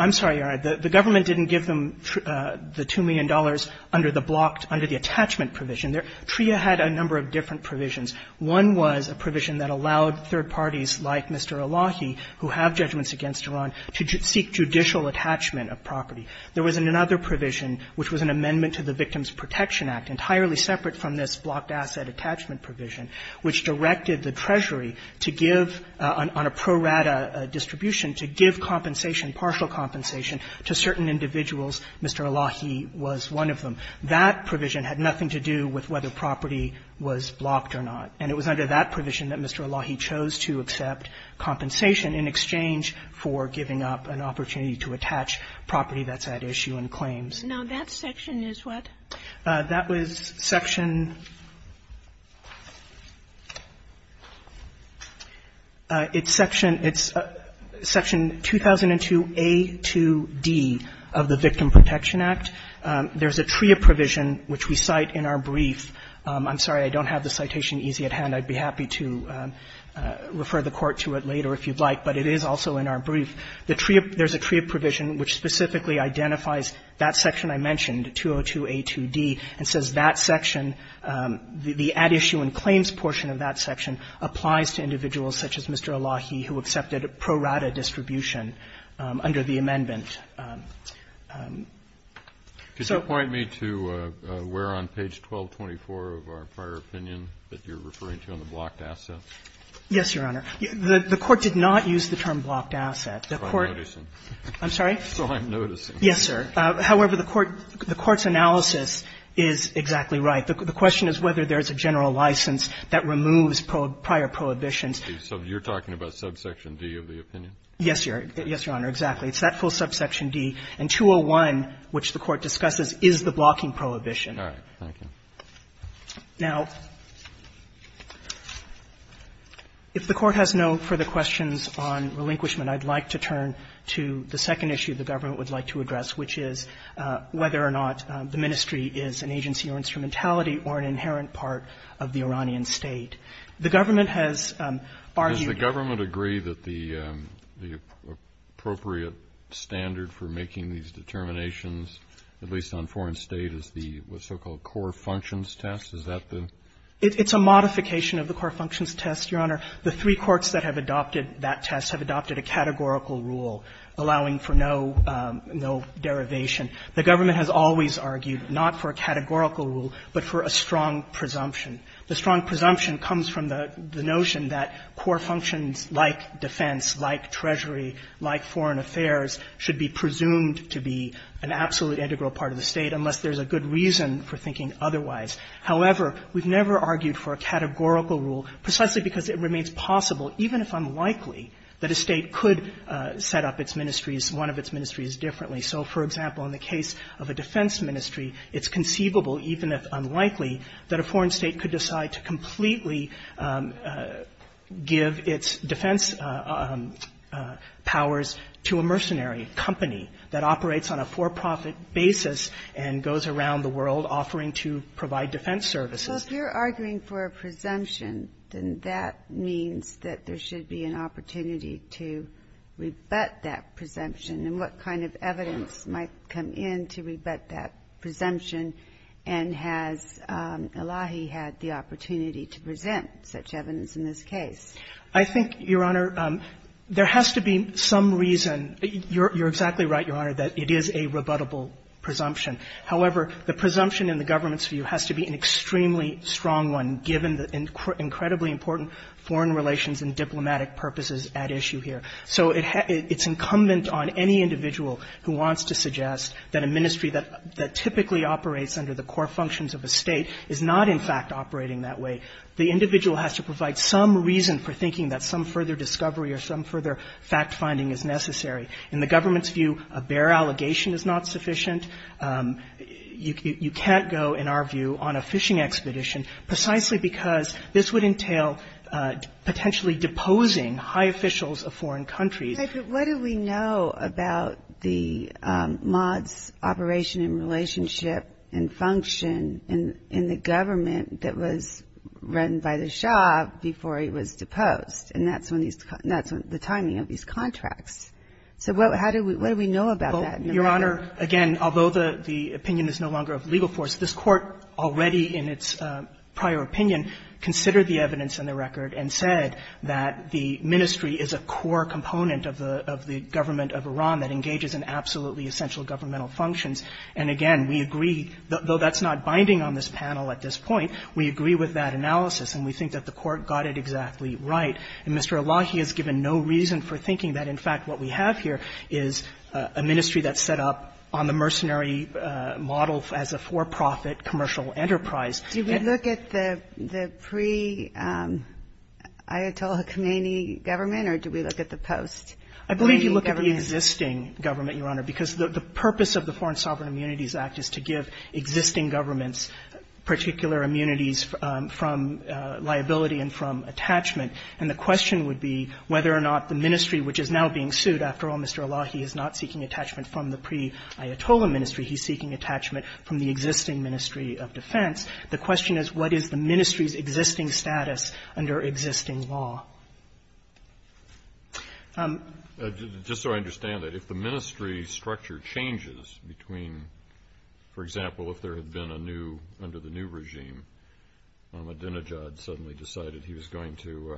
I'm sorry, Your Honor. The government didn't give them the $2 million under the blocked under the attachment provision. TRIA had a number of different provisions. One was a provision that allowed third parties like Mr. Elahi, who have judgments against Iran, to seek judicial attachment of property. There was another provision, which was an amendment to the Victims Protection Act, entirely separate from this to give, on a pro rata distribution, to give compensation, partial compensation, to certain individuals. Mr. Elahi was one of them. That provision had nothing to do with whether property was blocked or not. And it was under that provision that Mr. Elahi chose to accept compensation in exchange for giving up an opportunity to attach property that's at issue in claims. Now, that section is what? That was Section ---- it's Section ---- it's Section 2002a to d of the Victim Protection Act. There's a TRIA provision, which we cite in our brief. I'm sorry, I don't have the citation easy at hand. I'd be happy to refer the Court to it later if you'd like, but it is also in our brief. The TRIA ---- there's a TRIA provision which specifically identifies that section I mentioned, 202a to d, and says that section ---- the at-issue-in-claims portion of that section applies to individuals such as Mr. Elahi, who accepted a pro rata distribution under the amendment. So ---- Kennedy, did you point me to where on page 1224 of our prior opinion that you're referring to on the blocked assets? Yes, Your Honor. The Court did not use the term blocked assets. The Court ---- So I'm noticing. I'm sorry? So I'm noticing. Yes, sir. However, the Court's analysis is exactly right. The question is whether there's a general license that removes prior prohibitions. So you're talking about subsection d of the opinion? Yes, Your Honor. Exactly. It's that full subsection d. And 201, which the Court discusses, is the blocking prohibition. All right. Thank you. Now, if the Court has no further questions on relinquishment, I'd like to turn to the second issue the government would like to address, which is whether or not the ministry is an agency or instrumentality or an inherent part of the Iranian State. The government has argued ---- Does the government agree that the appropriate standard for making these determinations, at least on foreign State, is the so-called core functions test? Is that the ---- It's a modification of the core functions test, Your Honor. The three courts that have adopted that test have adopted a categorical rule allowing for no derivation. The government has always argued not for a categorical rule, but for a strong presumption. The strong presumption comes from the notion that core functions like defense, like treasury, like foreign affairs should be presumed to be an absolute integral part of the State, unless there's a good reason for thinking otherwise. However, we've never argued for a categorical rule, precisely because it remains possible, even if unlikely, that a State could set up its ministries, one of its ministries, differently. So, for example, in the case of a defense ministry, it's conceivable, even if unlikely, that a foreign State could decide to completely give its defense powers to a mercenary company that operates on a for-profit basis and goes around the world offering to provide defense services. So if you're arguing for a presumption, then that means that there should be an opportunity to rebut that presumption, and what kind of evidence might come in to rebut that presumption if Elahi had the opportunity to present such evidence in this case? I think, Your Honor, there has to be some reason. You're exactly right, Your Honor, that it is a rebuttable presumption. However, the presumption in the government's view has to be an extremely strong one, given the incredibly important foreign relations and diplomatic purposes at issue here. So it's incumbent on any individual who wants to suggest that a ministry that typically operates under the core functions of a State is not, in fact, operating that way. The individual has to provide some reason for thinking that some further discovery or some further fact-finding is necessary. In the government's view, a bare allegation is not sufficient. You can't go, in our view, on a fishing expedition precisely because this would entail potentially deposing high officials of foreign countries. But what do we know about the MoD's operation and relationship and function in the government that was run by the Shah before he was deposed? And that's when these – that's the timing of these contracts. So how do we – what do we know about that? Your Honor, again, although the opinion is no longer of legal force, this Court already in its prior opinion considered the evidence in the record and said that the ministry is a core component of the government of Iran that engages in absolutely essential governmental functions. And again, we agree, though that's not binding on this panel at this point, we agree with that analysis and we think that the Court got it exactly right. And Mr. Elahi has given no reason for thinking that, in fact, what we have here is a ministry that's set up on the mercenary model as a for-profit commercial enterprise. Do we look at the pre-Ayatollah Khomeini government or do we look at the post-Khomeini government? I believe you look at the existing government, Your Honor, because the purpose of the Foreign Sovereign Immunities Act is to give existing governments particular immunities from liability and from attachment. And the question would be whether or not the ministry, which is now being sued. After all, Mr. Elahi is not seeking attachment from the pre-Ayatollah ministry. He's seeking attachment from the existing ministry of defense. The question is, what is the ministry's existing status under existing law? Just so I understand it, if the ministry structure changes between, for example, if there had been a new, under the new regime, Ahmadinejad suddenly decided he was going to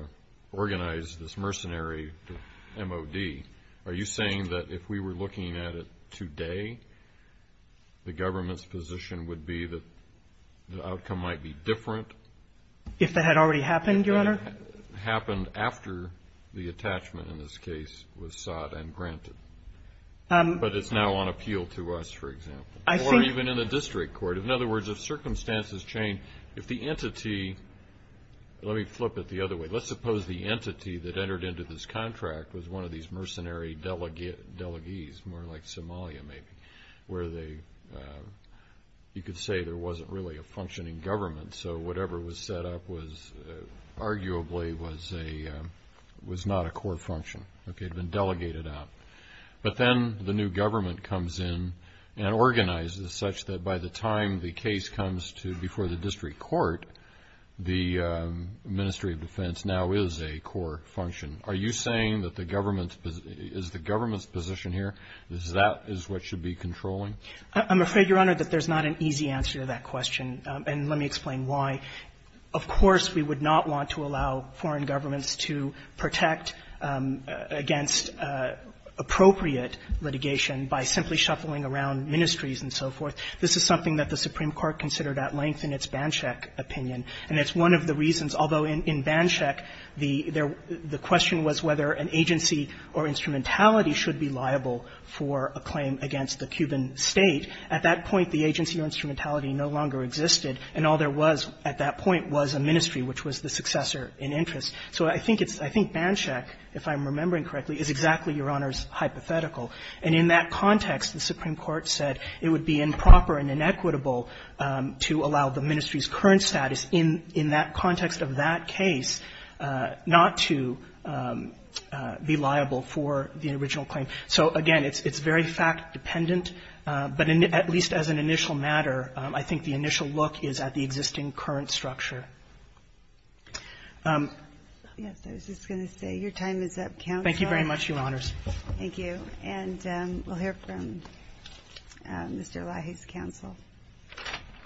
organize this mercenary M.O.D., are you saying that if we were looking at it today, the government's position would be that the outcome might be different? If that had already happened, Your Honor? Happened after the attachment, in this case, was sought and granted. But it's now on appeal to us, for example. Or even in the district court. In other words, if circumstances change, if the entity, let me flip it the other way. Let's suppose the entity that entered into this contract was one of these mercenary delegates, more like Somalia, maybe. Where they, you could say there wasn't really a functioning government. So whatever was set up was, arguably, was not a core function. Okay, it had been delegated out. But then the new government comes in and organizes such that by the time the case comes to before the district court, the ministry of defense now is a core function. Are you saying that the government's position here, that is what should be controlling? I'm afraid, Your Honor, that there's not an easy answer to that question. And let me explain why. Of course, we would not want to allow foreign governments to protect against appropriate litigation by simply shuffling around ministries and so forth. This is something that the Supreme Court considered at length in its Banshek opinion. And it's one of the reasons, although in Banshek, the question was whether an agency or instrumentality should be liable for a claim against the Cuban State. At that point, the agency or instrumentality no longer existed, and all there was at that point was a ministry, which was the successor in interest. So I think it's – I think Banshek, if I'm remembering correctly, is exactly Your Honor's hypothetical. And in that context, the Supreme Court said it would be improper and inequitable to allow the ministry's current status in that context of that case not to be liable for the original claim. So, again, it's very fact-dependent, but at least as an initial matter, I think the initial look is at the existing current structure. Ginsburg. Yes, I was just going to say, your time is up, counsel. Thank you very much, Your Honors. Thank you. And we'll hear from Mr. Lahey's counsel.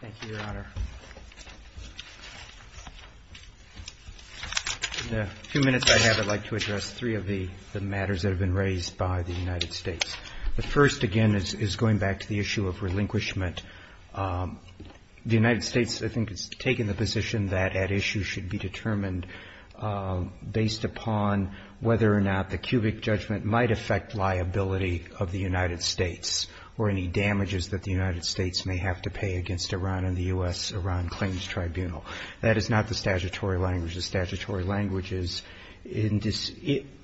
Thank you, Your Honor. In the few minutes I have, I'd like to address three of the matters that have been raised by the United States. The first, again, is going back to the issue of relinquishment. The United States, I think, has taken the position that at issue should be determined based upon whether or not the cubic judgment might affect liability of the United States or any damages that the United States may have to pay against Iran and the U.S.-Iran Claims Tribunal. That is not the statutory language. The statutory language is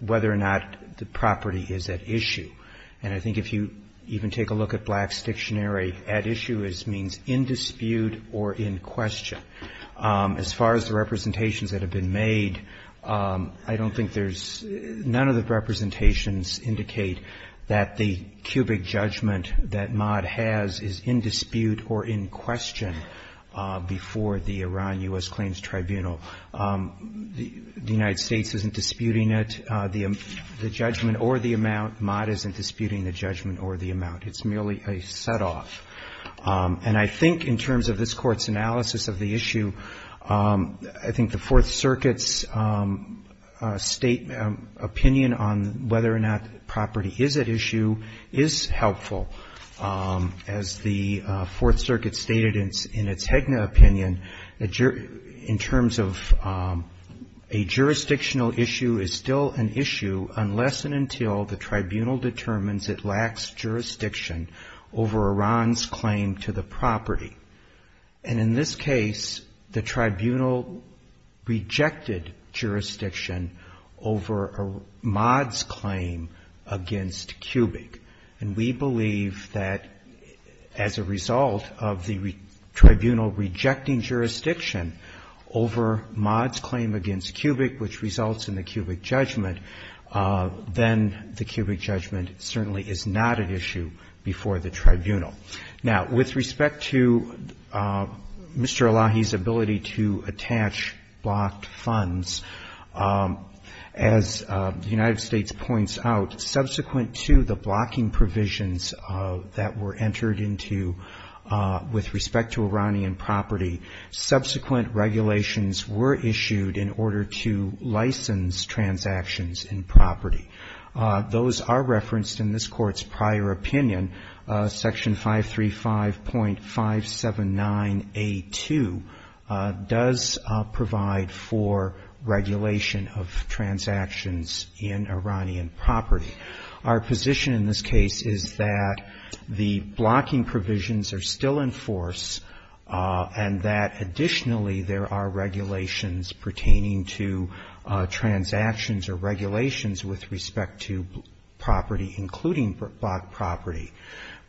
whether or not the property is at issue. And I think if you even take a look at Black's dictionary, at issue means in dispute or in question. As far as the representations that have been made, I don't think there's – none of the representations indicate that the cubic judgment that Mott has is in dispute or in question before the Iran-U.S. Claims Tribunal. The United States isn't disputing it, the judgment or the amount. Mott isn't disputing the judgment or the amount. It's merely a set-off. And I think in terms of this Court's analysis of the issue, I think the Fourth Circuit's state opinion on whether or not property is at issue is helpful. As the Fourth Circuit stated in its Hegna opinion, in terms of a jurisdictional issue is still an issue unless and until the tribunal determines it lacks jurisdiction over Iran's claim to the property. And in this case, the tribunal rejected jurisdiction over Mott's claim against cubic. And we believe that as a result of the tribunal rejecting jurisdiction over Mott's claim against cubic, which results in the cubic judgment, then the cubic judgment certainly is not an issue before the tribunal. Now, with respect to Mr. Elahi's ability to attach blocked funds, as the United States points out, subsequent to the blocking provisions that were entered into with respect to Iranian property, subsequent regulations were issued in order to license transactions in property. Those are referenced in this Court's prior opinion, Section 535.579A2 does provide for regulation of transactions in Iranian property. Our position in this case is that the blocking provisions are still in force and that additionally there are regulations pertaining to transactions or regulations with respect to property, including blocked property,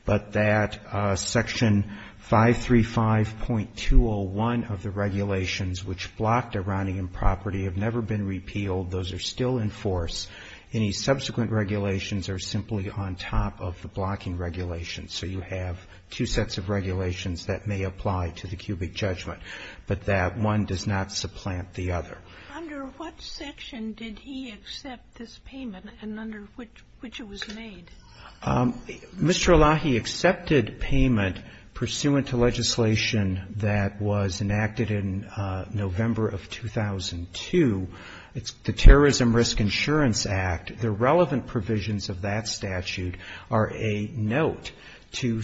but that Section 535.201 of the regulations which blocked Iranian property have never been repealed. Those are still in force. Any subsequent regulations are simply on top of the blocking regulations. So you have two sets of regulations that may apply to the cubic judgment, but that one does not supplant the other. Under what section did he accept this payment and under which it was made? Mr. Elahi accepted payment pursuant to legislation that was enacted in November of 2002. It's the Terrorism Risk Insurance Act. The relevant provisions of that statute are a note to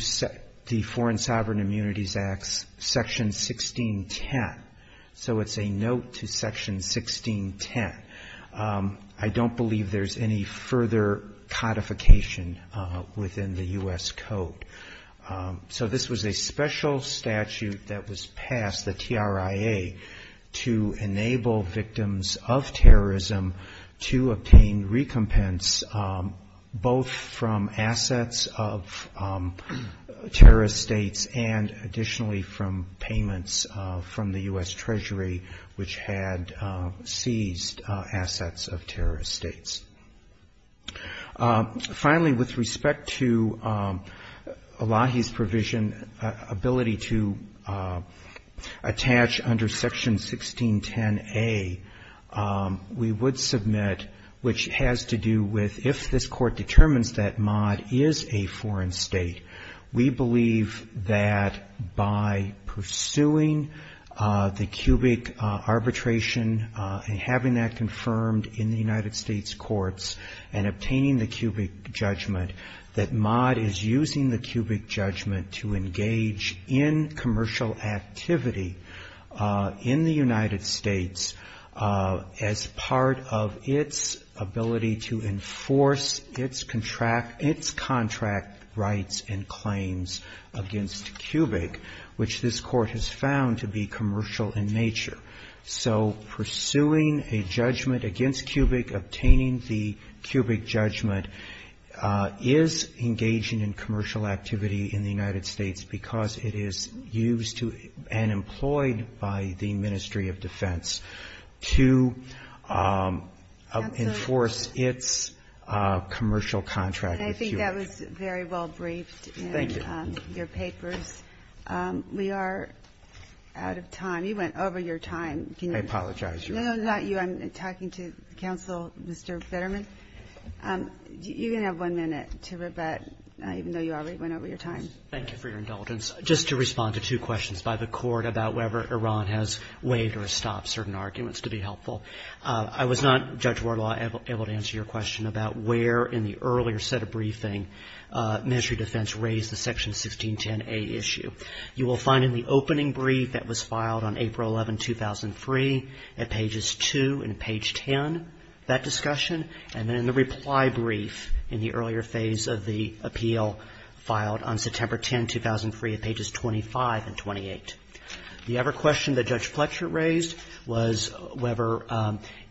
the Foreign Sovereign Immunities Act, Section 1610. So it's a note to Section 1610. I don't believe there's any further codification within the U.S. Code. So this was a special statute that was passed, the TRIA, to enable victims of terrorism to obtain recompense, both from assets of terrorist states and additional assets of the U.S. Treasury, which had seized assets of terrorist states. Finally, with respect to Elahi's provision, ability to attach under Section 1610A, we would submit, which has to do with if this Court determines that Maad is a foreign state, we believe that by pursuing the cubic arbitration and having that confirmed in the United States courts and obtaining the cubic judgment, that Maad is using the cubic judgment to engage in commercial activity in the United States as part of its ability to enforce its contract rights and claims against cubic, which this Court has found to be commercial in nature. So pursuing a judgment against cubic, obtaining the cubic judgment, is engaging in commercial activity in the United States because it is used to and employed by the Ministry of Defense GOTTLIEB Thank you. That was very well-briefed in your papers. We are out of time. You went over your time. MR. VETTERMAN Thank you for your indulgence. Just to respond to two questions by the Court about whether Iran has waived or stopped certain arguments, to be helpful, I was not, Judge Warlaw, able to answer your question about where in the earlier set of briefing Ministry of Defense raised the Section 1610A issue. You will find in the opening brief that was filed on April 11, 2003, at pages 2 and page 10, that discussion, and then in the reply brief in the earlier phase of the appeal filed on September 10, 2003, at pages 25 and 28. The other question that Judge Fletcher raised was whether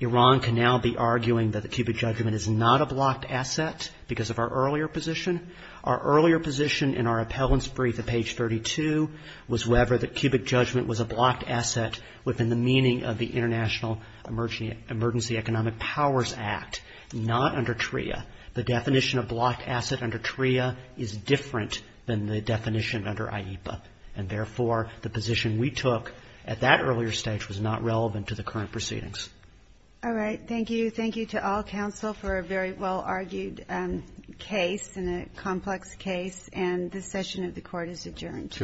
Iran can now be arguing that the cubic judgment is not a blocked asset because of our earlier position. Our earlier position in our appellant's brief at page 32 was whether the cubic judgment was a blocked asset within the meaning of the International Emergency Economic Powers Act, not under TRIA. The definition of blocked asset under TRIA is different than the definition under IEPA. And therefore, the position we took at that earlier stage was not relevant to the current proceedings. MS. GOTTLIEB All right. Thank you. Thank you to all counsel for a very well-argued case and a complex case. And this session of the Court is adjourned. Thank you.